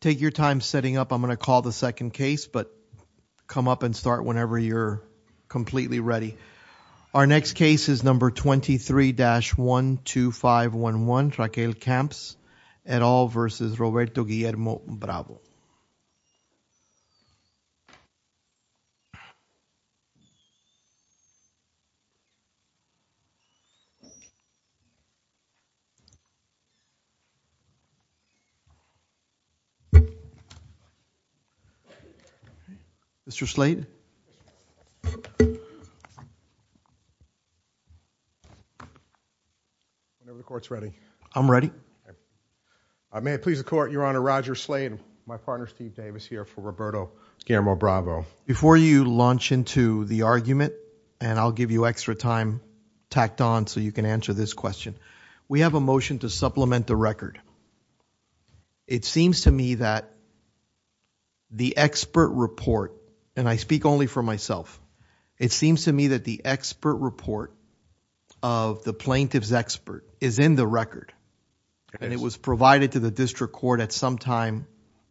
Take your time setting up. I'm going to call the second case but come up and start whenever you're completely ready. Our next case is number 23-12511 Raquel Camps et al. versus Roberto Guillermo Bravo. Mr. Slade. Whenever the court's ready. I'm ready. May it please the court. Your Honor, Roger Slade. My partner Steve Davis here for Roberto Guillermo Bravo. Before you launch into the argument, and I'll give you extra time tacked on so you can answer this question, we have a motion to supplement the record. It seems to me that the expert report, and I speak only for myself, it seems to me that the expert report of the plaintiff's expert is in the record and it was provided to the district court at some time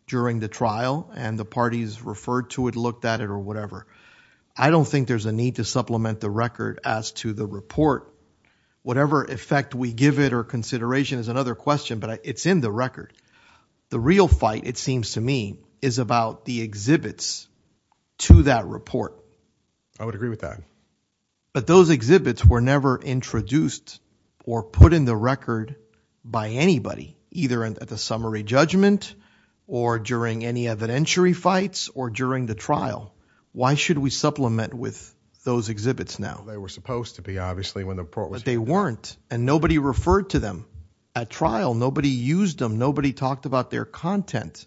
during the trial and the parties referred to it looked at it or whatever. I don't think there's a need to supplement the record as to the report. Whatever effect we give it or consideration is another question but it's in the record. The real fight, it seems to me, is about the exhibits to that report. I would agree with that. But those exhibits were never introduced or put in the record by anybody, either at the summary judgment or during any evidentiary fights or during the trial. Why should we supplement with those exhibits now? They were supposed to be, obviously, when the report was given. But they nobody used them. Nobody talked about their content.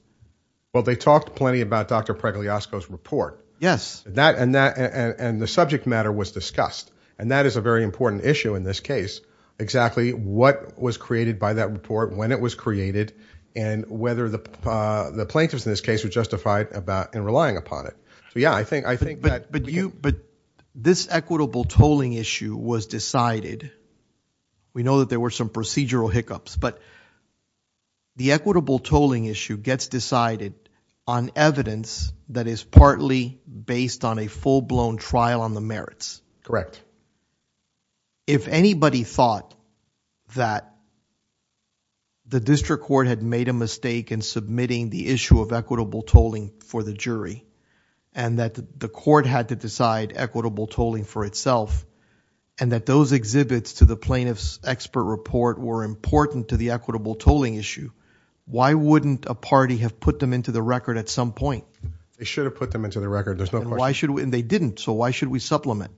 Well, they talked plenty about Dr. Pregliasco's report. Yes. And the subject matter was discussed and that is a very important issue in this case, exactly what was created by that report, when it was created, and whether the plaintiffs in this case were justified in relying upon it. So yeah, I think that... But this equitable tolling issue was decided. We know that there were some procedural hiccups but the equitable tolling issue gets decided on evidence that is partly based on a full-blown trial on the merits. Correct. If anybody thought that the district court had made a mistake in submitting the issue of equitable tolling for the jury and that the court had to decide equitable tolling for itself and that those exhibits to the plaintiff's expert report were important to the equitable tolling issue, why wouldn't a party have put them into the record at some point? They should have put them into the record. There's no question. Why should we? And they didn't. So why should we supplement?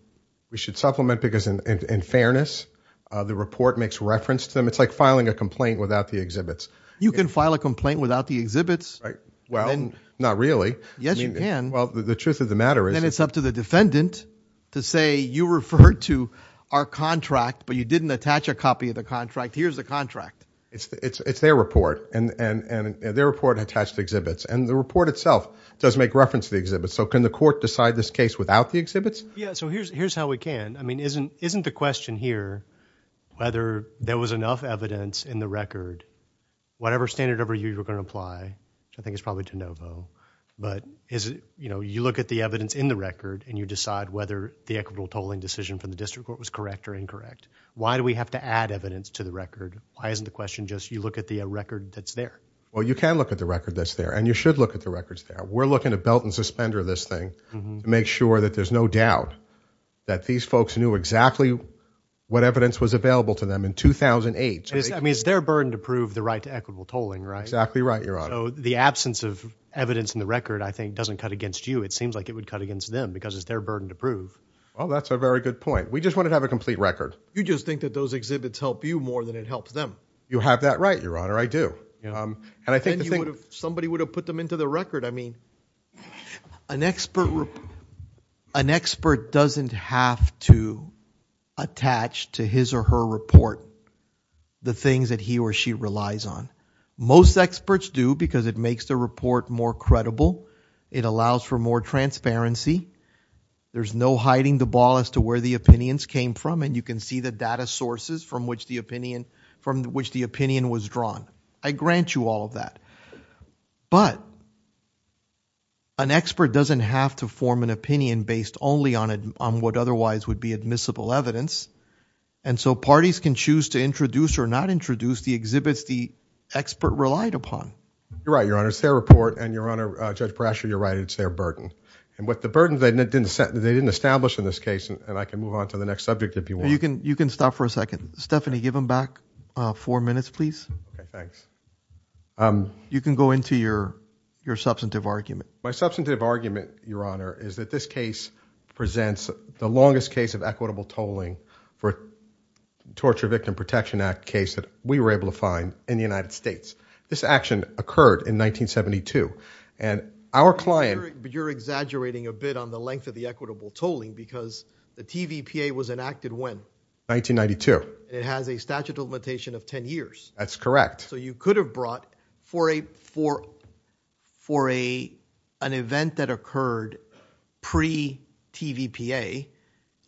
We should supplement because in fairness, the report makes reference to them. It's like filing a complaint without the exhibits. You can file a complaint without the exhibits. Well, not really. Yes, you can. Well, the truth of the matter is... It's up to the defendant to say, you referred to our contract but you didn't attach a copy of the contract. Here's the contract. It's their report. And their report attached exhibits. And the report itself does make reference to the exhibits. So can the court decide this case without the exhibits? Yeah, so here's how we can. I mean, isn't the question here whether there was enough evidence in the record, whatever standard of review you were going to apply, I think it's probably de novo, but is it, you know, you look at the evidence in the record and you decide whether the equitable tolling decision from the district court was correct or incorrect. Why do we have to add evidence to the record? Why isn't the question just you look at the record that's there? Well, you can look at the record that's there and you should look at the records there. We're looking to belt and suspender this thing to make sure that there's no doubt that these folks knew exactly what evidence was available to them in 2008. I mean, it's their burden to prove the right to equitable tolling, right? Exactly right, Your Honor. So the absence of evidence in the record doesn't feel like it would cut against them because it's their burden to prove. Well, that's a very good point. We just want to have a complete record. You just think that those exhibits help you more than it helps them. You have that right, Your Honor, I do. And I think somebody would have put them into the record. I mean, an expert doesn't have to attach to his or her report the things that he or she relies on. Most experts do because it makes the report more credible. It allows for more transparency. There's no hiding the ball as to where the opinions came from and you can see the data sources from which the opinion was drawn. I grant you all of that. But an expert doesn't have to form an opinion based only on it on what otherwise would be admissible evidence and so parties can choose to introduce or not introduce the exhibits the expert relied upon. You're right, Your Honor. It's their burden. And with the burden that they didn't establish in this case, and I can move on to the next subject if you want. You can stop for a second. Stephanie, give him back four minutes, please. You can go into your substantive argument. My substantive argument, Your Honor, is that this case presents the longest case of equitable tolling for Torture Victim Protection Act case that we were able to find in the United States. This action occurred in 1972 and our client... You're exaggerating a bit on the length of the equitable tolling because the TVPA was enacted when? 1992. It has a statute of limitation of 10 years. That's correct. So you could have brought for a for for a an event that occurred pre TVPA,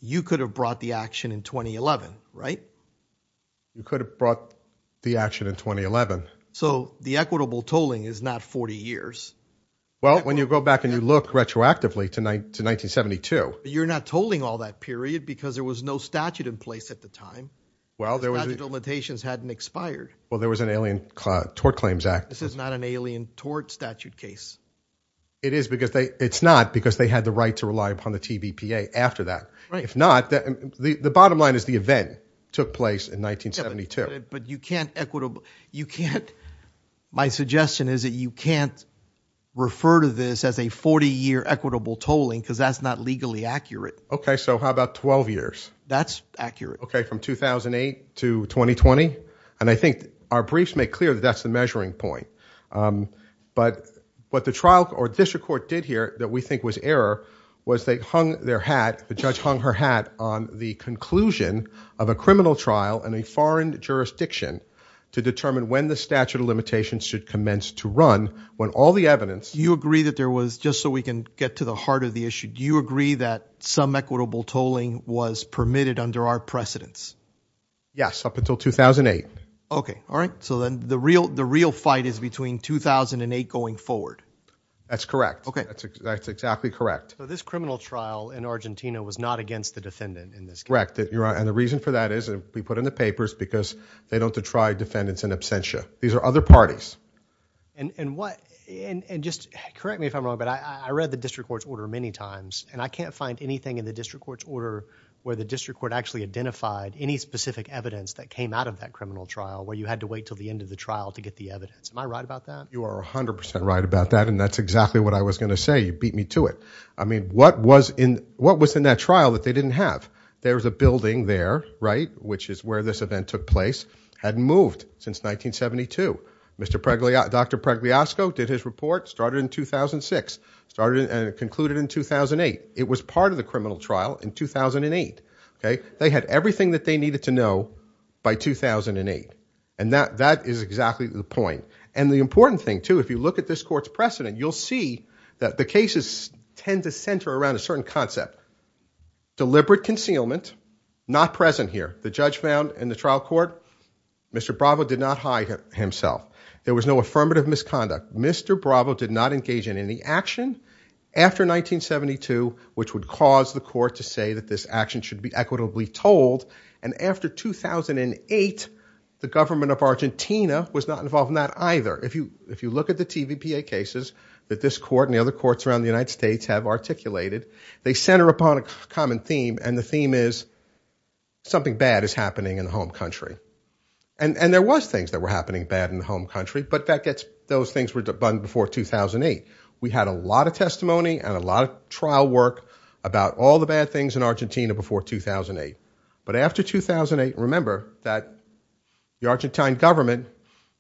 you could have brought the action in 2011, right? You could have brought the action in 2011. So the equitable tolling is not 40 years. Well, when you go back and you look retroactively tonight to 1972. You're not tolling all that period because there was no statute in place at the time. Well, there were limitations hadn't expired. Well, there was an alien Tort Claims Act. This is not an alien tort statute case. It is because they it's not because they had the right to rely upon the TVPA after that. Right. If not, the bottom line is the event took place in 1972. But you can't equitable you can't my suggestion is that you can't refer to this as a 40-year equitable tolling because that's not legally accurate. Okay, so how about 12 years? That's accurate. Okay, from 2008 to 2020 and I think our briefs make clear that that's the measuring point. But what the trial or district court did here that we think was error was they hung their hat the judge hung her hat on the conclusion of a criminal trial and a foreign jurisdiction to determine when the statute of limitations should commence to run when all the evidence you agree that there was just so we can get to the heart of the issue. Do you agree that some equitable tolling was permitted under our precedence? Yes, up until 2008. Okay. All right. So then the real the real fight is between 2008 going forward. That's correct. Okay. That's exactly correct. So this criminal trial in Argentina was not against the defendant in this correct that you're and the reason for that is we put in the papers because they don't to try defendants in absentia. These are other parties. And what and just correct me if I'm wrong but I read the district court's order many times and I can't find anything in the district court's order where the district court actually identified any specific evidence that came out of that criminal trial where you had to wait till the end of the trial to get the evidence. Am I right about that? You are 100% right about that and that's exactly what I was going to say. You beat me to it. I mean what was in what was in that trial that they didn't have? There was a building there, right, which is where this event took place, had moved since 1972. Mr. Pregliasco, Dr. Pregliasco did his report, started in 2006, started and concluded in 2008. It was part of the criminal trial in 2008. Okay. They had everything that they needed to know by 2008 and that that is exactly the point. And the important thing too if you look at this court's precedent you'll see that the cases tend to center around a certain concept. Deliberate concealment, not present here. The judge found in the trial court Mr. Bravo did not hide himself. There was no affirmative misconduct. Mr. Bravo did not engage in any action after 1972 which would cause the court to say that this action should be equitably told and after 2008 the government of Argentina was not involved in that either. If you if you look at the TVPA cases that this court and the other courts around the United States have articulated they center upon a common theme and the theme is something bad is happening in the home country. And and there was things that were happening bad in the home country but that gets those things were done before 2008. We had a lot of testimony and a lot of trial work about all the bad things in Argentina before 2008 but after 2008 remember that the Argentine government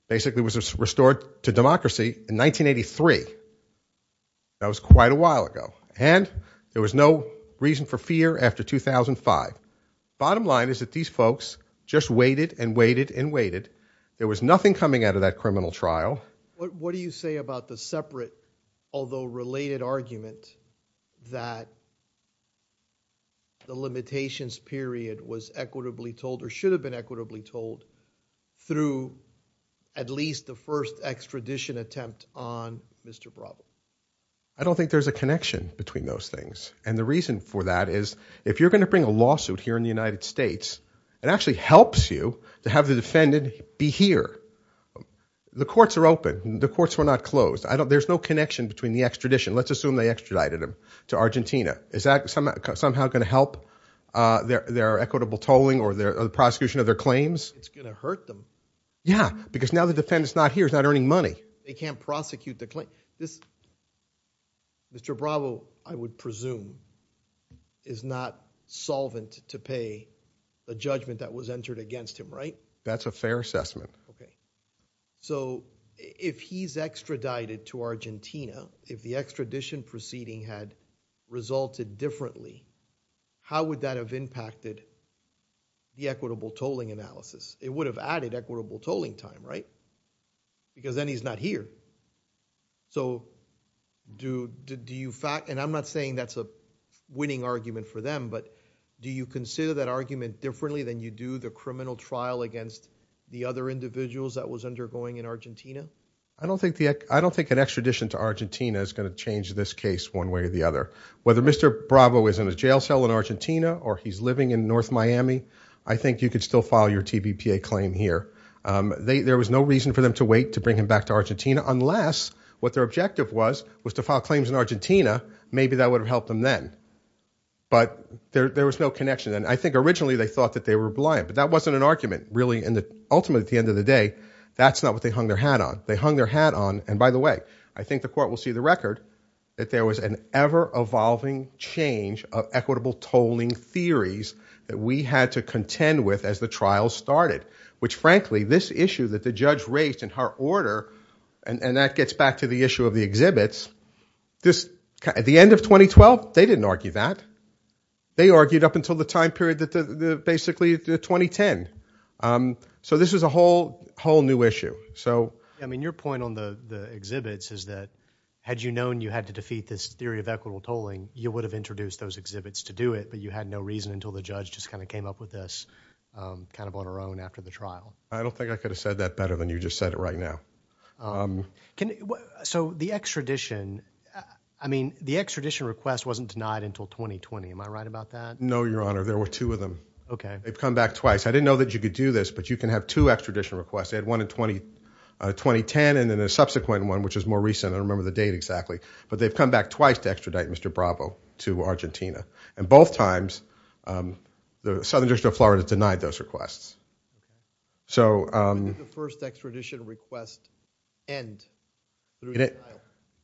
basically was restored to democracy in 1983. That was quite a while ago and there was no reason for fear after 2005. Bottom line is that these folks just waited and waited and waited. There was nothing coming out of that criminal trial. What limitations period was equitably told or should have been equitably told through at least the first extradition attempt on Mr. Bravo? I don't think there's a connection between those things and the reason for that is if you're going to bring a lawsuit here in the United States it actually helps you to have the defendant be here. The courts are open. The courts were not closed. I don't there's no connection between the extradition. Let's assume they extradited him to Argentina. Is that somehow going to help their equitable tolling or the prosecution of their claims? It's going to hurt them. Yeah, because now the defendant's not here. He's not earning money. They can't prosecute the claim. Mr. Bravo, I would presume, is not solvent to pay a judgment that was entered against him, right? That's a fair assessment. If he's extradited to Argentina, if the extradition proceeding had resulted differently, how would that have impacted the equitable tolling analysis? It would have added equitable tolling time, right? Because then he's not here. So do you fact, and I'm not saying that's a winning argument for them, but do you consider that argument differently than you do the criminal trial against the other individuals that was undergoing in Argentina? I don't think an extradition to Argentina is going to change this case one way or the other. Whether Mr. Bravo is in a jail cell in Argentina or he's living in North Miami, I think you could still file your TBPA claim here. There was no reason for them to wait to bring him back to Argentina unless what their objective was was to file claims in Argentina. Maybe that would have helped them then, but there was no connection. I think originally they thought that they were blind, but that wasn't an argument, really. Ultimately, at the end of the day, that's not what they hung their hat on. They hung their hat on, and by the way, I think the court will see the record that there was an ever-evolving change of equitable tolling theories that we had to contend with as the trial started, which frankly, this issue that the judge raised in her order, and that gets back to the issue of the exhibits, at the end of 2012, they didn't argue that. They argued up until the time period, basically 2010. This was a whole new issue. Your point on the exhibits is that had you known you had to defeat this theory of equitable tolling, you would have introduced those exhibits to do it, but you had no reason until the judge just kind of came up with this kind of on her own after the trial. I don't think I could have said that better than you just said it right now. The extradition request wasn't denied until 2020. Am I right about that? No, Your Honor. There were two of them. Okay. They've come back twice. I didn't know that you could do this, but you can have two extradition requests. They had one in 2010, and then a subsequent one, which is more recent. I don't remember the date exactly, but they've come back twice to extradite Mr. Bravo to Argentina. Both times, the Southern District of Florida denied those requests. When did the first extradition request end?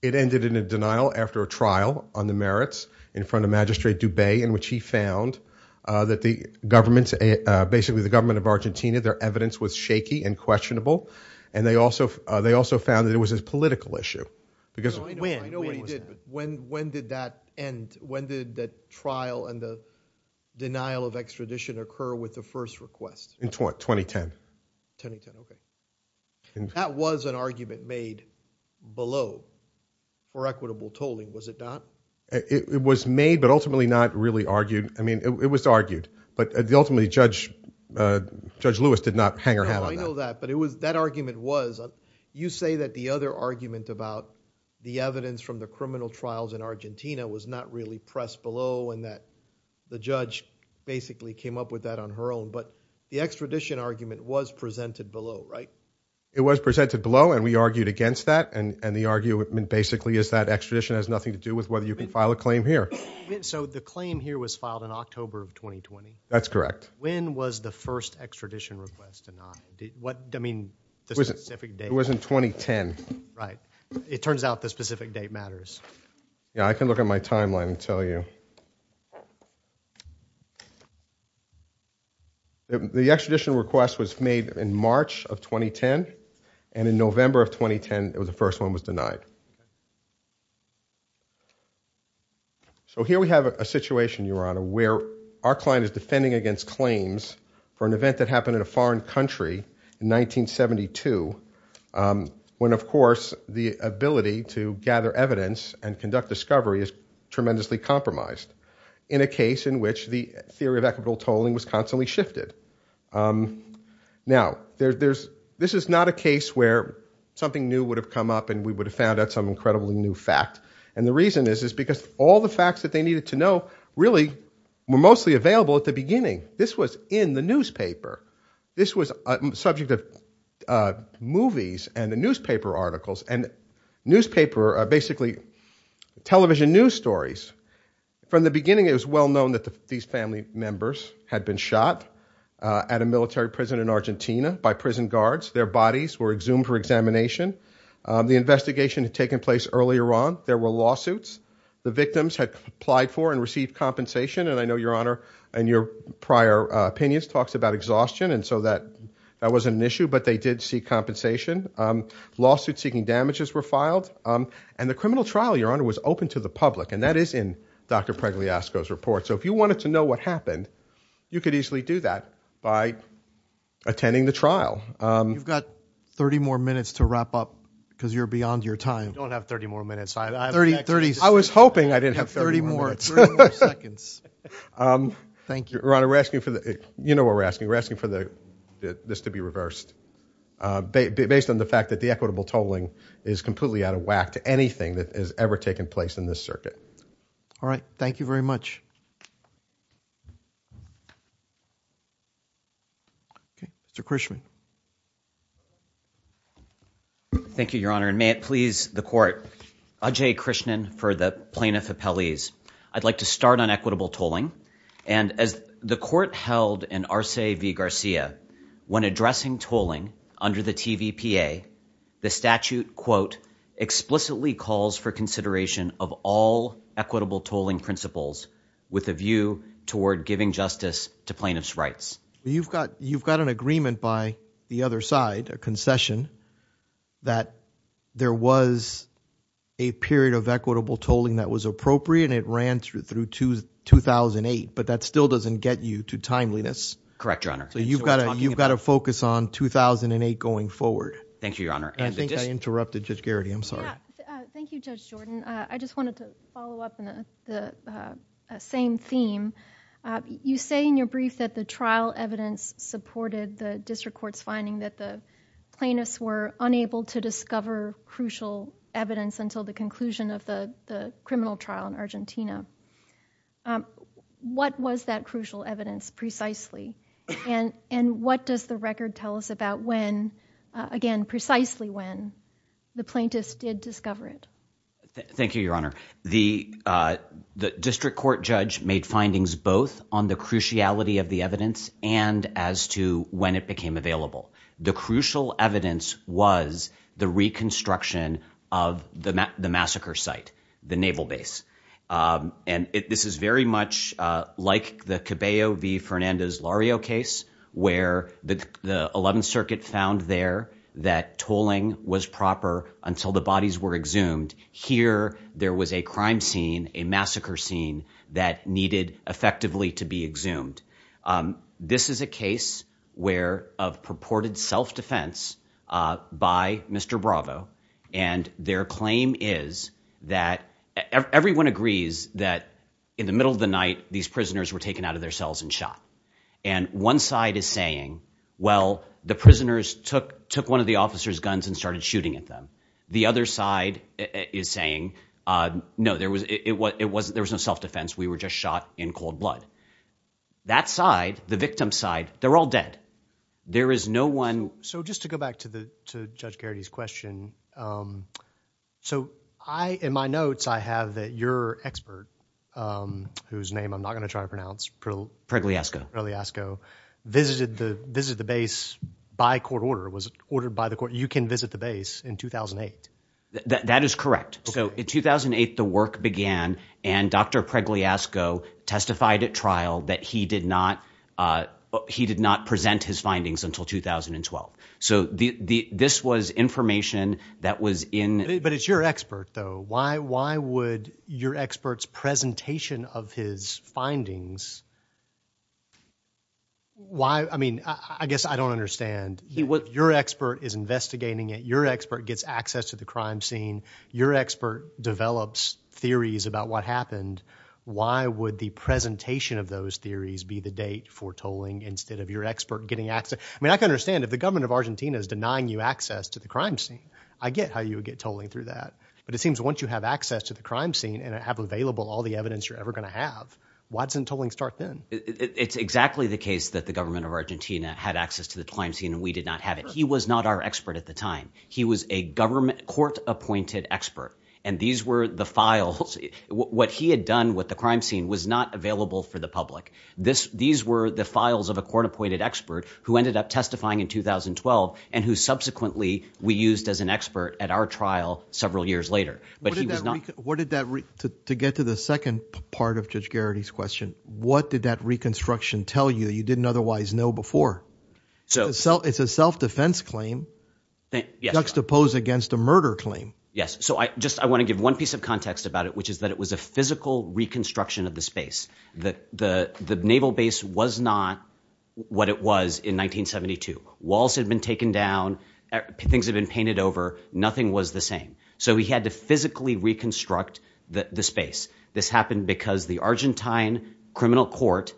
It ended in a denial after a trial on the merits in front of Magistrate Dubey, in which he found that the government, basically the government of Argentina, their evidence was shaky and questionable. They also found that it was a political issue. When did that end? When did that trial and the denial of extradition occur with the first request? In 2010. That was an argument made below for equitable tolling, was it not? It was made, but ultimately not really argued. I mean, it was argued, but ultimately, Judge Lewis did not hang her head on that. I know that, but that argument was, you say that the other argument about the evidence from the criminal trials in Argentina was not really pressed below, and that the judge basically came up with that on her own, but the extradition argument was presented below, right? It was presented below, and we argued against that, and the argument, basically, is that extradition has nothing to do with whether you can file a claim here. So the claim here was filed in October of 2020? That's correct. When was the first extradition request denied? What, I mean, the specific date? It was in 2010. Right. It turns out the specific date matters. Yeah, I can look at my timeline and tell you. The extradition request was made in March of 2010, and in November of 2010, it was the first one was denied. So here we have a situation, Your Honor, where our client is defending against claims for an event that happened in a foreign country in 1972, when, of course, the ability to gather evidence and conduct discovery is tremendously compromised, in a case in which the theory of equitable tolling was constantly shifted. Now, there's, this is not a case where something new would have come up, and we would have found out some incredibly new fact, and the reason is, is because all the facts that they needed to know, really, were mostly available at the beginning. This was in the newspaper. This was a subject of movies and the newspaper articles, and newspaper, basically, television news stories. From the beginning, it was well known that these family members had been shot at a military prison in Argentina by prison guards. Their bodies were exhumed for examination. The investigation had taken place earlier on. There were lawsuits. The victims had applied for and received compensation, and I know, Your Honor, and your prior opinions talks about exhaustion, and so that that wasn't an issue, but they did seek compensation. Lawsuits seeking damages were filed, and the criminal trial, Your Honor, was open to the public, and that is in Dr. Pregliasco's report, so if you wanted to know what happened, you could easily do that by attending the trial. You've got 30 more minutes to wrap up, because you're beyond your time. I don't have 30 more minutes. I have 30. I was hoping I didn't have 30 more. Thank you. Your Honor, we're asking for the, you know what we're asking, we're asking for the this to be reversed, based on the fact that the equitable tolling is completely out of whack to anything that has ever taken place in this circuit. All right, thank you very much. Okay, Mr. Krishnan. Thank you, Your Honor, and may it please the Court. Ajay Krishnan for the Plaintiff Appellees. I'd like to start on equitable tolling under the TVPA. The statute, quote, explicitly calls for consideration of all equitable tolling principles with a view toward giving justice to plaintiffs' rights. You've got an agreement by the other side, a concession, that there was a period of equitable tolling that was appropriate, and it ran through 2008, but that still doesn't get you to correct, Your Honor. You've got to focus on 2008 going forward. Thank you, Your Honor. I think I interrupted Judge Garrity. I'm sorry. Thank you, Judge Jordan. I just wanted to follow up on the same theme. You say in your brief that the trial evidence supported the district court's finding that the plaintiffs were unable to discover crucial evidence until the conclusion of the criminal trial in Argentina. What was that crucial evidence precisely, and what does the record tell us about when, again precisely when, the plaintiffs did discover it? Thank you, Your Honor. The district court judge made findings both on the cruciality of the evidence and as to when it became available. The crucial evidence was the reconstruction of the massacre site, the naval base, and this is very much like the Cabello v. Fernandez Lario case, where the 11th Circuit found there that tolling was proper until the bodies were exhumed. Here there was a crime scene, a massacre scene, that needed effectively to be exhumed. This is a case where of purported self-defense by Mr. Bravo, and their claim is that everyone agrees that in the middle of the night these prisoners were taken out of their cells and shot. And one side is saying, well, the prisoners took one of the officers guns and started shooting at them. The other side is saying, no, there was, it wasn't, there was no self-defense. We were just shot in cold blood. That side, the victim side, they're all dead. There is no one. So just to go back to the to Judge Garrity's question, so I, in my notes, I have that your expert, whose name I'm not gonna try to pronounce, Pregliasco, visited the visit the base by court order, was ordered by the court, you can visit the base in 2008. That is correct. So in 2008 the work began and Dr. Pregliasco testified at trial that he did not, he did not present his findings until 2012. So the, this was information that was in... But it's your expert though. Why, why would your expert's presentation of his findings, why, I mean, I guess I don't understand. Your expert is investigating it. Your expert gets access to the crime scene. Your expert develops theories about what happened. Why would the presentation of those theories be the date for tolling instead of your expert getting access? I mean, I can understand if the government of Argentina is denying you access to the crime scene. I get how you would get tolling through that. But it seems once you have access to the crime scene and have available all the evidence you're ever gonna have, why doesn't tolling start then? It's exactly the case that the government of Argentina had access to the crime scene and we did not have it. He was not our expert at the time. He was a government, court-appointed expert and these were the files. What he had done with the crime scene was not available for the public. These were the files of a court-appointed expert who ended up testifying in 2012 and who subsequently we used as an expert at our trial several years later. But he was not... To get to the second part of Judge Garrity's question, what did that reconstruction tell you that you didn't otherwise know before? It's a self-defense claim juxtaposed against a murder claim. Yes, so I just I want to give one piece of context about it which is that it was a physical reconstruction of the space. The naval base was not what it was in 1972. Walls had been taken down, things have been painted over, nothing was the same. So he had to physically reconstruct the space. This happened because the Argentine criminal court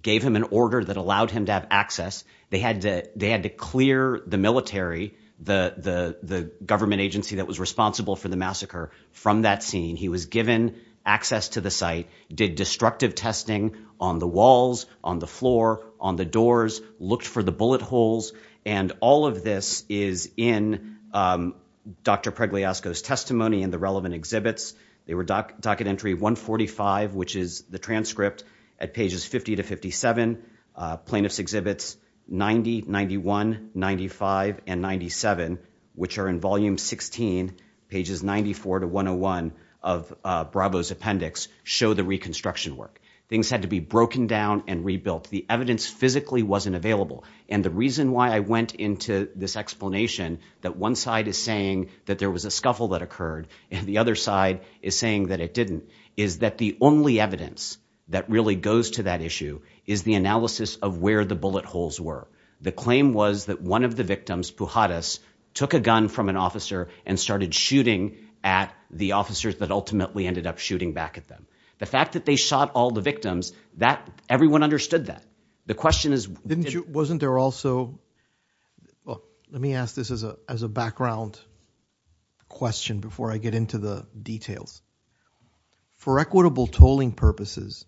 gave him an order that allowed him to have access. They had to clear the military, the government agency that was responsible for the massacre, from that scene. He was given access to the site, did destructive testing on the walls, on the floor, on the doors, looked for the bullet holes, and all of this is in Dr. Pregliasco's testimony and the relevant exhibits. They were docket entry 145, which is the transcript at pages 50 to 57, plaintiff's exhibits 90, 91, 95, and 97, which are in volume 16, pages 94 to 101 of Bravo's appendix, show the reconstruction work. Things had to be broken down and rebuilt. The evidence physically wasn't available and the reason why I went into this explanation that one side is saying that there was a scuffle that occurred and the other side is saying that it didn't, is that the only evidence that really goes to that issue is the analysis of where the bullet holes were. The claim was that one of the victims, Pujadas, took a gun from an officer and started shooting at the officers that ultimately ended up shooting back at them. The fact that they shot all the victims, that, everyone understood that. The question is, didn't you, wasn't there also, well, let me ask this as a background question before I get into the details. For equitable tolling purposes,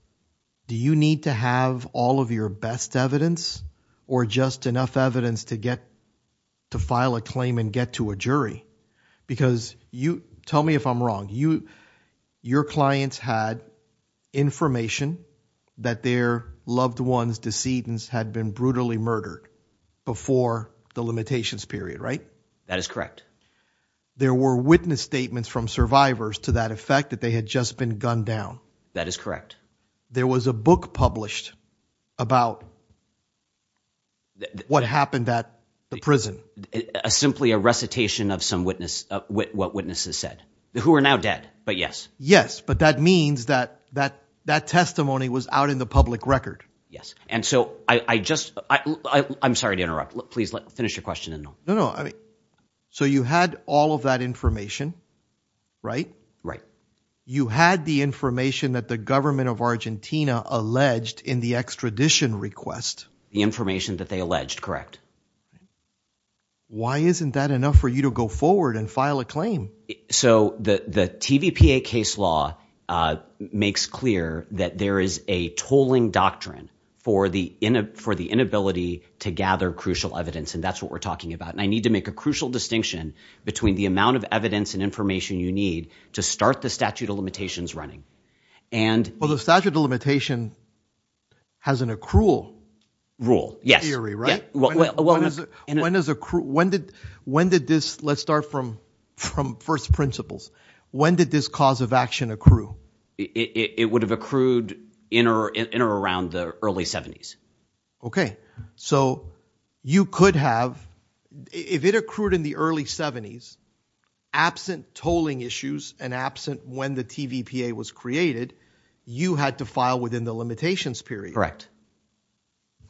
do you need to have all of your best evidence or just enough evidence to get, to file a claim and get to a jury? Because you, tell me if I'm wrong, you, your clients had information that their loved ones, decedents, had been brutally murdered before the limitations period, right? That is correct. There were witness statements from survivors to that effect that they had just been gunned down. That is correct. There was a book published about what happened at the prison. Simply a recitation of some witness, what witnesses said, who are now dead, but yes. Yes, but that means that, that, that testimony was out in the public record. Yes, and so I, I just, I, I'm sorry to interrupt. Please let, finish your question. No, no, I mean, so you had all of that information, right? Right. You had the information that the government of Argentina alleged in the extradition request. The information that they alleged, correct. Why isn't that enough for you to go forward and file a claim? So the, the TVPA case law makes clear that there is a tolling doctrine for the in, for the inability to gather crucial evidence, and that's what we're talking about. And I need to make a crucial distinction between the amount of evidence and information you need to start the statute of limitations running. And. Well, the statute of limitation has an accrual rule. Yes. Theory, right? When, when, when does it, when does accrual, when did, when did this, let's start from, from first principles, when did this cause of action accrue? It would have accrued in or, in or around the early 70s. Okay, so you could have, if it accrued in the early 70s, absent tolling issues and absent when the TVPA was created, you had to file within the limitations period. Correct.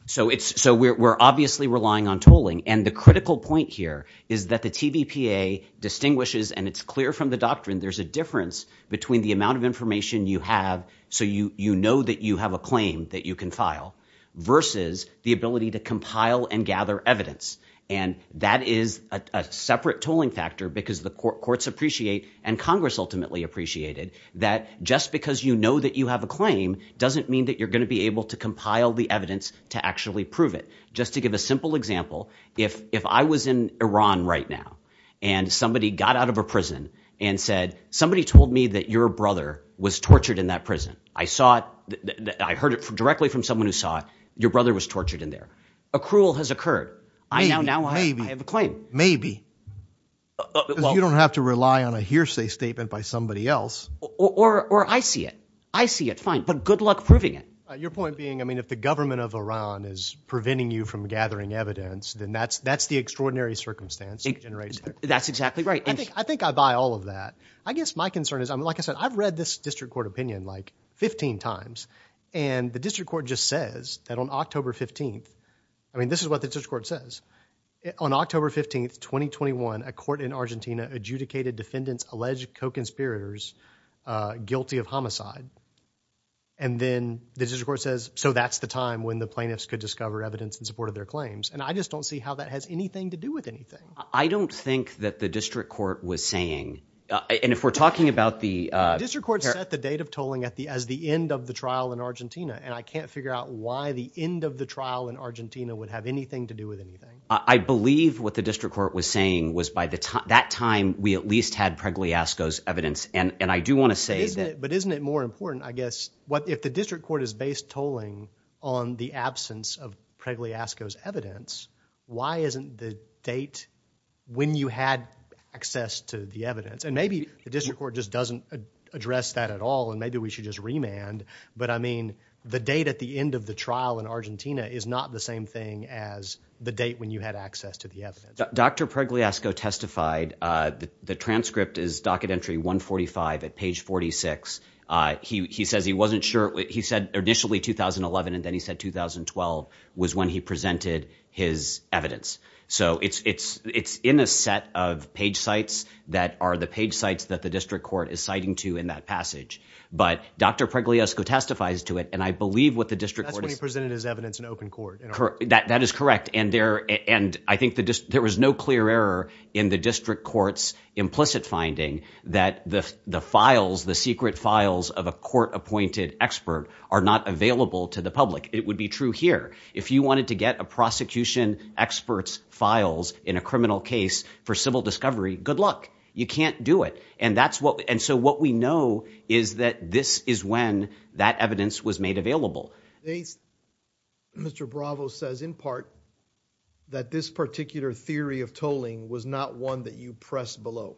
So it's, so we're, we're obviously relying on tolling. And the critical point here is that the TVPA distinguishes, and it's clear from the doctrine, there's a difference between the amount of information you have, so you, you know that you have a claim that you can file, versus the ability to compile and gather evidence. And that is a separate tolling factor because the courts appreciate, and Congress ultimately appreciated, that just because you know that you have a claim doesn't mean that you're going to be able to compile the evidence to actually prove it. Just to give a simple example, if, if I was in Iran right now, and somebody got out of a prison and said, somebody told me that your brother was tortured in that prison. I saw it, I heard it directly from someone who saw it, your brother was tortured in there. Accrual has occurred. I now, now I have a claim. Maybe. You don't have to rely on a hearsay statement by somebody else. Or, or I see it. I see it, fine, but good luck proving it. Your point being, I mean, if the government of Iran is preventing you from gathering evidence, then that's, that's the extraordinary circumstance. That's exactly right. I think, I think I buy all of that. I guess my concern is, I mean, like I said, I've read this district court opinion like 15 times, and the district court just says that on October 15th, I mean, this is what the district court says, on October 15th, 2021, a court in Argentina adjudicated defendants alleged co-conspirators guilty of homicide. And then the district court says, so that's the time when the plaintiffs could discover evidence in support of their claims. And I just don't see how that has anything to do with anything. I don't think that the district court was saying, and if we're talking about the, uh, district court set the date of tolling at the, as the end of the trial in Argentina. And I can't figure out why the end of the trial in Argentina would have anything to do with anything. I believe what the district court was saying was by the time, that time we at least had Pregliasco's evidence. And, and I do want to say that, but isn't it more important, I guess, what, if the district court is based tolling on the absence of Pregliasco's evidence, why isn't the date when you had access to the evidence? And maybe the district court just doesn't address that at all. And maybe we should just remand, but I mean, the date at the end of the trial in Argentina is not the same thing as the date when you had access to the evidence. Dr. Pregliasco testified, uh, the, the transcript is docket entry 1 45 at page 46. Uh, he, he says he wasn't sure he said initially 2011 and then he said 2012 was when he presented his evidence. So it's, it's, it's in a set of page sites that are the page sites that the district court is citing to in that passage. But Dr. Pregliasco testifies to it. And I believe what the district presented as evidence in open court. That is correct. And there, and I think the, there was no clear error in the district court's implicit finding that the, the files, the secret files of a court appointed expert are not available to the public. It would be true here. If you wanted to get a prosecution experts files in a criminal case for civil discovery, good luck. You can't do it. And that's what, and so what we know is that this is when that evidence was made available. Mr. Bravo says in part that this particular theory of tolling was not one that you press below.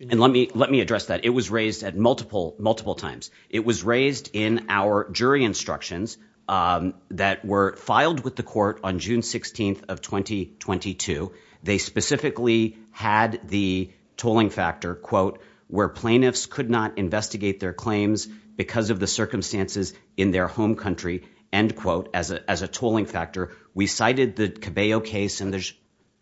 And let me, let me address that. It was raised at multiple, multiple times. It was raised in our jury instructions, um, that were filed with the court on June 16th of 2022. They specifically had the tolling factor quote, where plaintiffs could not investigate their claims because of the circumstances in their home country and quote, as a, as a tolling factor, we cited the Cabello case and there's.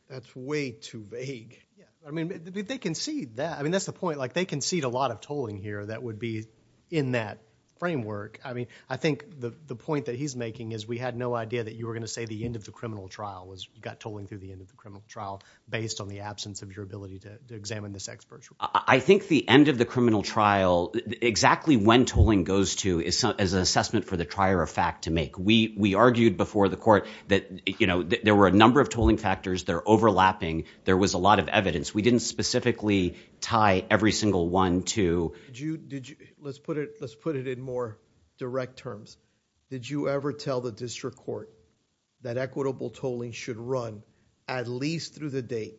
That's way too vague. I mean, they can see that. I mean, that's the point. Like they can see a lot of tolling here that would be in that framework. I mean, I think the, the point that he's making is we had no idea that you were going to say the end of the criminal trial was got tolling through the end of the criminal trial based on the absence of your ability to examine this expert. I think the end of the criminal trial, exactly when tolling goes to is as an assessment for the trier of fact to make, we, we argued before the court that, you know, there were a number of tolling factors, they're overlapping. There was a lot of evidence. We didn't specifically tie every single one to. Did you, did you, let's put it, let's put it in more direct terms. Did you ever tell the district court that equitable tolling should run at least through the date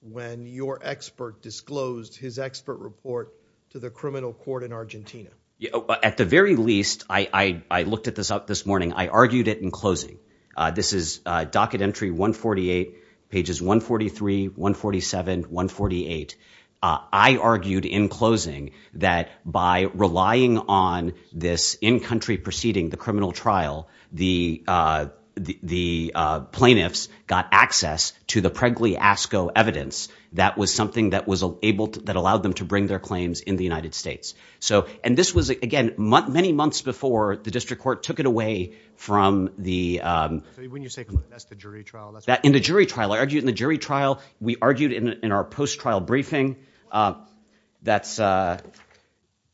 when your expert disclosed his expert report to the criminal court in Argentina? Yeah, at the very least, I, I, I looked at this up this morning. I argued it in closing. Uh, this is a docket entry, one 48 pages, one 43, one 47, one 48. Uh, I argued in closing that by relying on this in country proceeding, the criminal trial, the, uh, the, uh, plaintiffs got access to the pregly ASCO evidence. That was something that was able to, that allowed them to bring their claims in the United States. So, and this was again, many months before the district court took it away from the, um, in the jury trial, I argued in the jury trial, we argued in our post trial briefing, uh, that's a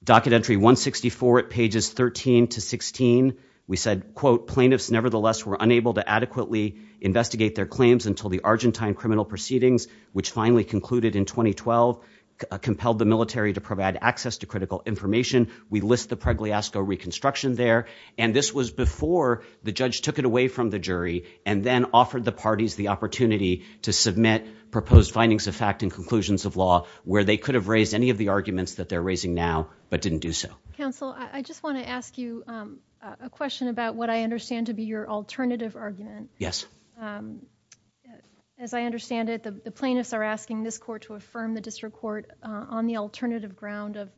docket entry one 64 at pages 13 to 16. We said, quote, plaintiffs nevertheless were unable to adequately investigate their claims until the Argentine criminal proceedings, which finally concluded in 2012 compelled the military to provide access to critical information. We list the pregly ASCO reconstruction there, and this was before the judge took it away from the jury and then offered the parties the opportunity to submit proposed findings of fact and conclusions of law where they could have raised any of the arguments that they're raising now, but didn't do so. Counsel, I just want to ask you, um, a question about what I understand to be your alternative argument. Yes. Um, as I understand it, the plaintiffs are asking this court to affirm the district court on the alternative ground of,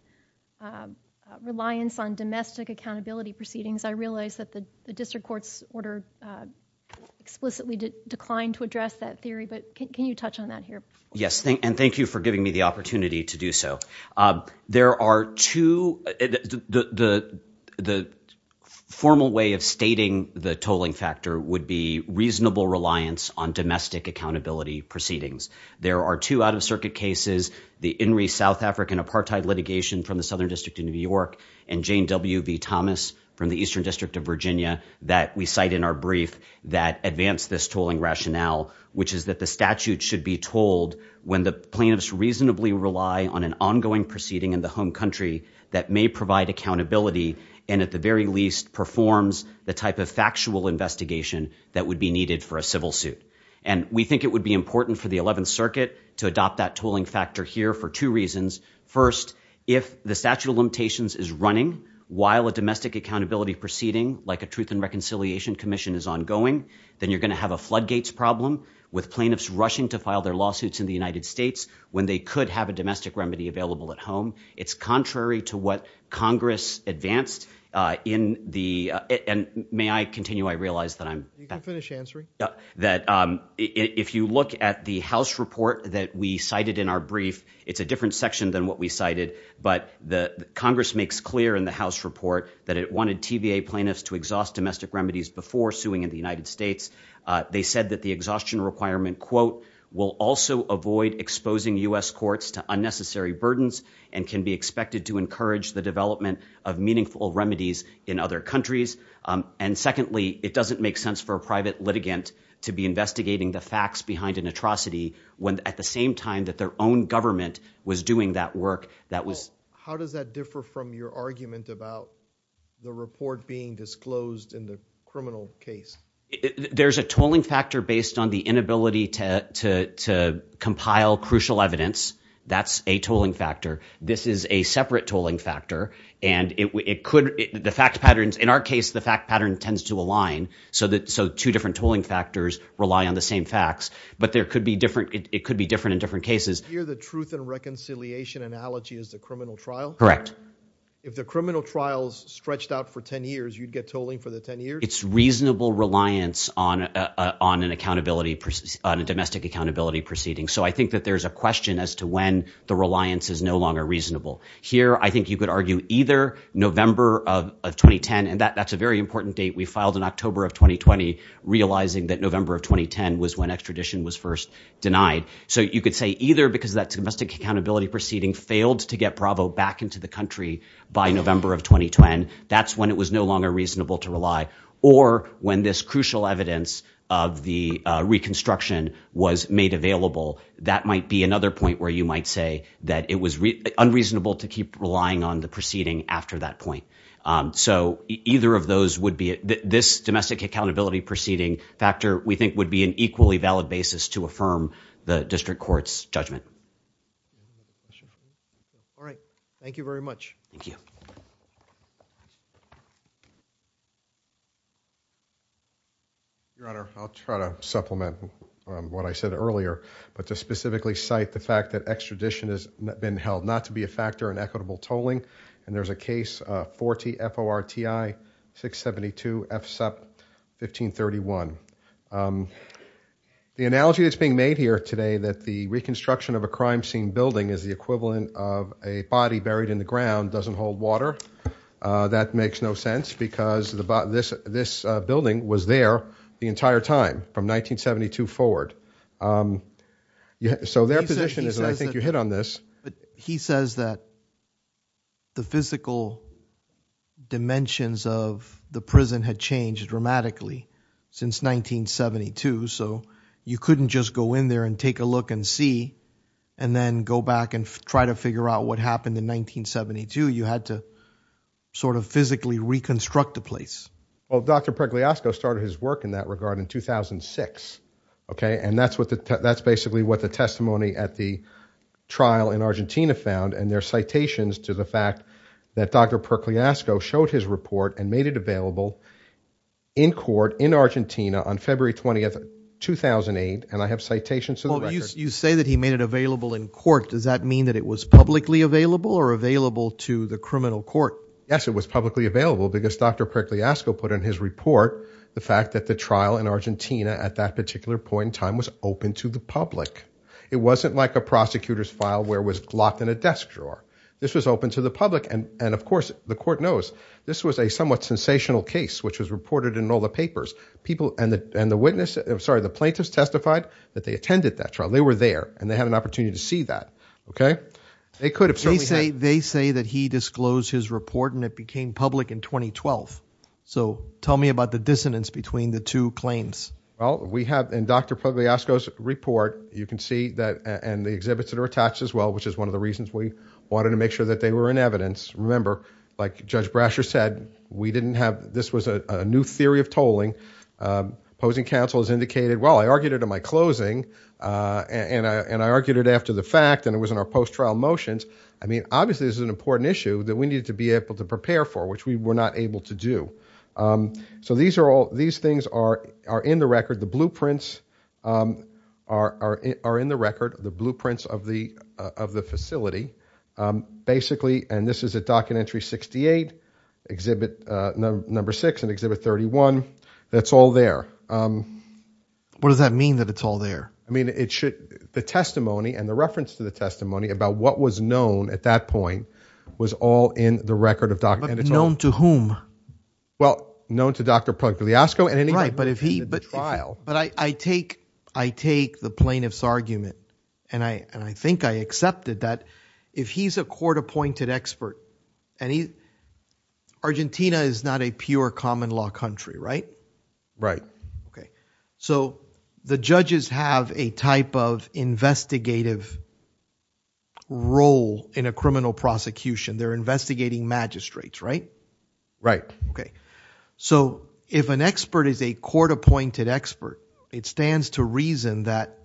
um, reliance on domestic accountability proceedings. I realized that the district court's order, uh, explicitly declined to address that theory. But can you touch on that here? Yes. And thank you for giving me the opportunity to do so. Uh, there are two. The the the formal way of stating the tolling factor would be reasonable reliance on domestic accountability proceedings. There are two out of circuit cases. The in re South African apartheid litigation from the Southern District in New York and Jane W. V. Thomas from the Eastern District of Virginia that we cite in our brief that advance this tolling rationale, which is that the statute should be told when the plaintiffs reasonably rely on an ongoing proceeding in the home country that may provide accountability and at the very least performs the type of factual investigation that would be needed for a civil suit. And we think it would be important for the 11th Circuit to adopt that tolling factor here for two reasons. First, if the statute of limitations is running while a domestic accountability proceeding like a truth and reconciliation commission is ongoing, then you're gonna have a floodgates problem with plaintiffs rushing to file their lawsuits in the United States when they could have a domestic remedy available at home. It's contrary to what Congress advanced in the and may I continue. I realize that you can finish answering that. If you look at the House report that we cited in our brief, it's a different section than what we cited. But the Congress makes clear in the House report that it wanted TVA plaintiffs to exhaust domestic remedies before suing in the United States. They said that the exhaustion requirement quote will also avoid exposing U. S. Courts to unnecessary burdens and can be expected to encourage the development of meaningful remedies in other countries. And secondly, it doesn't make sense for a private litigant to be investigating the facts behind an atrocity when at the same time that their own government was doing that work. That was how does that differ from your argument about the report being disclosed in the criminal case? There's a tolling factor based on the inability to compile crucial evidence. That's a tolling factor. This is a separate tolling factor. In our case the fact pattern tends to align so two different tolling factors rely on the same facts. But it could be different in different cases. Here the truth and reconciliation analogy is the criminal trial? Correct. If the criminal trial is stretched out for 10 years, you'd get tolling for the 10 years? It's reasonable reliance on a domestic accountability proceeding. So I think that there's a question as to when the reliance is no longer reasonable. Here I think you could argue either November of 2010, and that's a very important date. We filed in October of 2020 realizing that November of 2010 was when extradition was first denied. So you could say either because that domestic accountability proceeding failed to get Bravo back into the country by November of 2020, that's when it was no longer reasonable to rely. Or when this crucial evidence of the reconstruction was made available, that might be another point where you might say that it was unreasonable to keep relying on the proceeding after that point. So either of those would be it. This domestic accountability proceeding factor we think would be an equally valid basis to affirm the district court's judgment. All right. Thank you very much. Thank you. Your Honor, I'll try to supplement what I said earlier, but to specifically cite the fact that extradition has been held not to be a factor in equitable tolling. And there's a case 40 FORTI 672 FSEP 1531. The analogy that's being made here today that the reconstruction of a crime scene building is the equivalent of a body buried in the ground doesn't hold water, that makes no sense because the this building was there the entire time from 1972 forward. So their position is, I think you hit on this, he says that the physical dimensions of the prison had changed dramatically since 1972. So you couldn't just go in there and take a look and see and then go back and try to figure out what happened in 1972. You had to sort of physically reconstruct the place. Well, Dr. Percliasco started his work in that regard in 2006. Okay. And that's what the that's basically what the testimony at the trial in Argentina found and their citations to the fact that Dr. Percliasco showed his report and made it available in court in Argentina on February 20th 2008. And I have citations You say that he made it available in court. Does that mean that it was publicly available or available to the criminal court? Yes, it was publicly available because Dr. Percliasco put in his report the fact that the trial in Argentina at that particular point in time was open to the public. It wasn't like a prosecutor's file where it was locked in a desk drawer. This was open to the public and and of course the court knows this was a somewhat sensational case which was reported in all the papers. People and the and the witness I'm sorry the plaintiffs testified that they attended that trial. They were there and they had an opportunity to see that. Okay. They could have certainly say they say that he disclosed his report and it became public in 2012. So tell me about the dissonance between the two claims. Well we have in Dr. Percliasco's report you can see that and the exhibits that are attached as well which is one of the reasons we wanted to make sure that they were in evidence. Remember like Judge Brasher said we didn't have this was a new theory of tolling. Opposing counsel has indicated well I argued it at my closing and I and I argued it after the fact and it was in our post trial motions. I mean obviously this is an important issue that we need to be able to prepare for which we were not able to do. So these are all these things are are in the record the blueprints are are in the record the blueprints of the of the facility basically and this is a documentary 68 exhibit number six and exhibit 31 that's all there. What does that mean that it's all there? I mean it should the testimony and the reference to the testimony about what was known at that point was all in the record of documents. Known to whom? Well known to Dr. Percliasco. Right but if he but trial. But I take I take the plaintiff's argument and I and I think I accepted that if he's a court-appointed expert and he Argentina is not a pure common law country right? Right. Okay so the judges have a type of investigative role in a criminal prosecution they're investigating magistrates right? Right. Okay so if an expert is a court-appointed expert it stands to that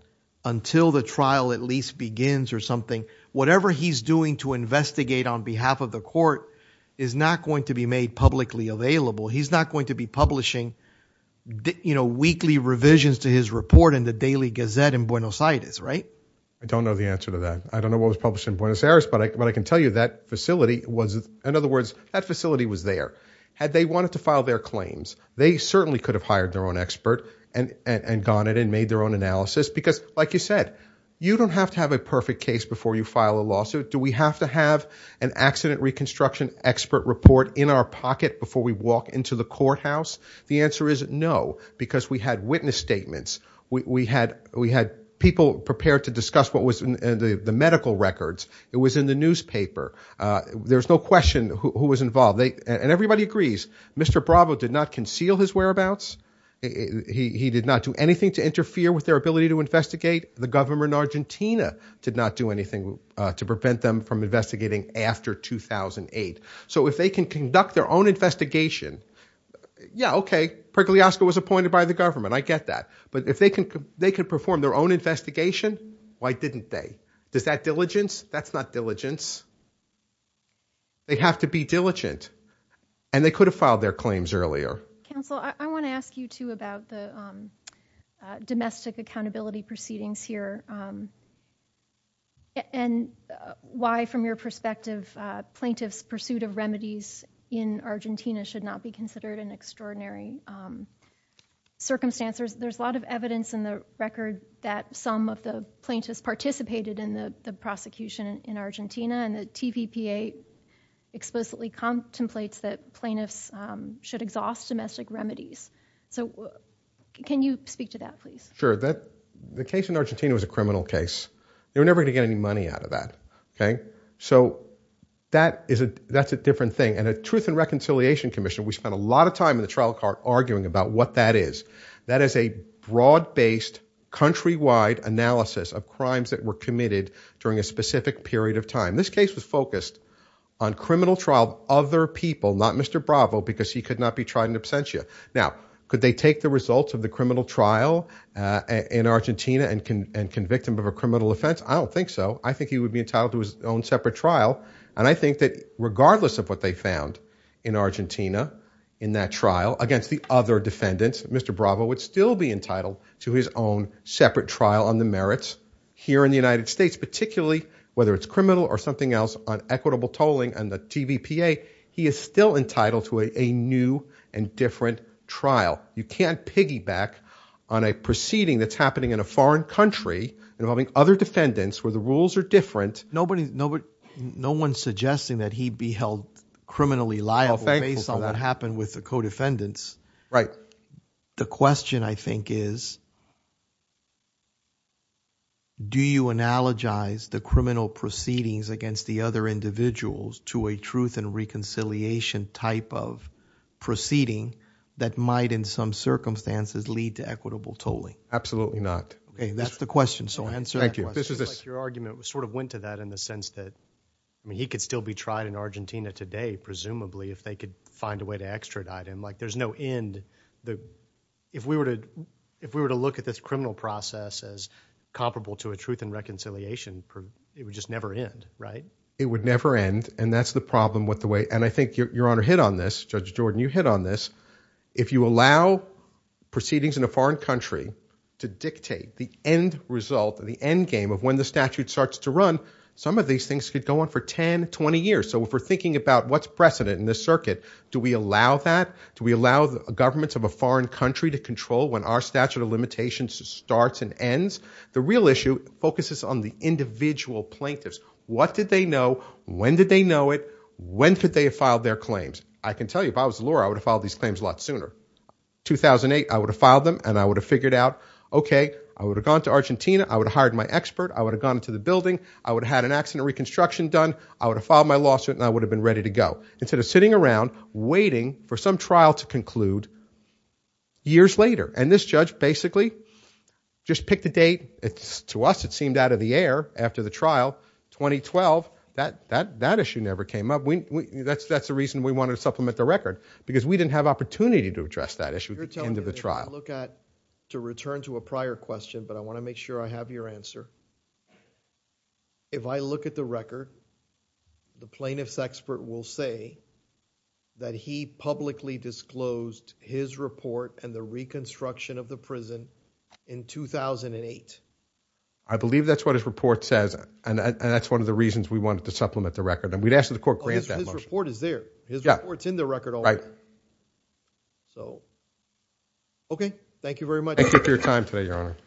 until the trial at least begins or something whatever he's doing to investigate on behalf of the court is not going to be made publicly available he's not going to be publishing you know weekly revisions to his report in the Daily Gazette in Buenos Aires right? I don't know the answer to that I don't know what was published in Buenos Aires but I can tell you that facility was in other words that facility was there. Had they wanted to file their claims they certainly could have hired their own expert and and gone it and made their own analysis because like you said you don't have to have a perfect case before you file a lawsuit do we have to have an accident reconstruction expert report in our pocket before we walk into the courthouse? The answer is no because we had witness statements we had we had people prepared to discuss what was in the medical records it was in the newspaper there's no question who was involved they and everybody agrees Mr. Bravo did not conceal his whereabouts he did not do anything to interfere with their ability to investigate the government Argentina did not do anything to prevent them from investigating after 2008 so if they can conduct their own investigation yeah okay Pergoliasco was appointed by the government I get that but if they can they could perform their own investigation why didn't they? Does that diligence? That's not diligence. They have to be diligent and they could have filed their claims earlier. Counsel I want to ask you too about the domestic accountability proceedings here and why from your perspective plaintiffs pursuit of remedies in Argentina should not be considered an extraordinary circumstances there's a lot of evidence in the record that some of the plaintiffs participated in the prosecution in Argentina and the TPPA explicitly contemplates that plaintiffs should exhaust domestic remedies so can you speak to that please? Sure that the case in Argentina was a criminal case they were never gonna get any money out of that okay so that is a that's a different thing and a Truth and Reconciliation Commission we spent a lot of time in the trial court arguing about what that is that is a broad-based countrywide analysis of crimes that were committed during a specific period of time this case was focused on criminal trial other people not Mr. Bravo because he could not be tried in absentia now could they take the results of the criminal trial in Argentina and can and convict him of a criminal offense I don't think so I think he would be entitled to his own separate trial and I think that regardless of what they found in Argentina in that trial against the other defendants Mr. Bravo would still be entitled to his own separate trial on the merits here in the United States particularly whether it's criminal or something else on equitable tolling and the TVPA he is still entitled to a new and different trial you can't piggyback on a proceeding that's happening in a foreign country involving other defendants where the rules are different nobody no but no one's suggesting that he'd be held criminally liable based on what happened with the co-defendants right the question I think is do you analogize the criminal proceedings against the other individuals to a truth and reconciliation type of proceeding that might in some circumstances lead to equitable tolling absolutely not okay that's the question so answer thank you this is this your argument was sort of went to that in the sense that I mean he could still be tried in Argentina today presumably if they could find a way to extradite him like there's no end the if we were to if we were to look at this criminal process as comparable to a truth and reconciliation it would just never end right it would never end and that's the problem with the way and I think your honor hit on this judge Jordan you hit on this if you allow proceedings in a foreign country to dictate the end result of the endgame of when the statute starts to run some of these things could go on for 10 20 years so if we're thinking about what's precedent in this circuit do we allow that do we allow the governments of a foreign country to control when our statute of limitations starts and ends the real issue focuses on the individual plaintiffs what did they know when did they know it when could they have filed their claims I can tell you if I was Laura I would have followed these claims a lot sooner 2008 I would have filed them and I would have figured out okay I would have gone to Argentina I would have hired my expert I would have gone into the building I would have had an accident reconstruction done I would have filed my lawsuit and I would have been ready to go instead of sitting around waiting for some trial to conclude years later and this judge basically just pick the date it's to us it seemed out of the air after the trial 2012 that that that issue never came up we that's that's the reason we wanted to supplement the record because we didn't have opportunity to address that issue into the trial look at to return to a prior question but I want to make sure I have your answer if I look at the record the plaintiff's expert will say that he publicly disclosed his report and the reconstruction of the prison in 2008 I believe that's what his report says and that's one of the reasons we wanted to supplement the record and we'd ask that the court grant this report is there it's in the record all right so okay thank you very much thank you for your time today your honor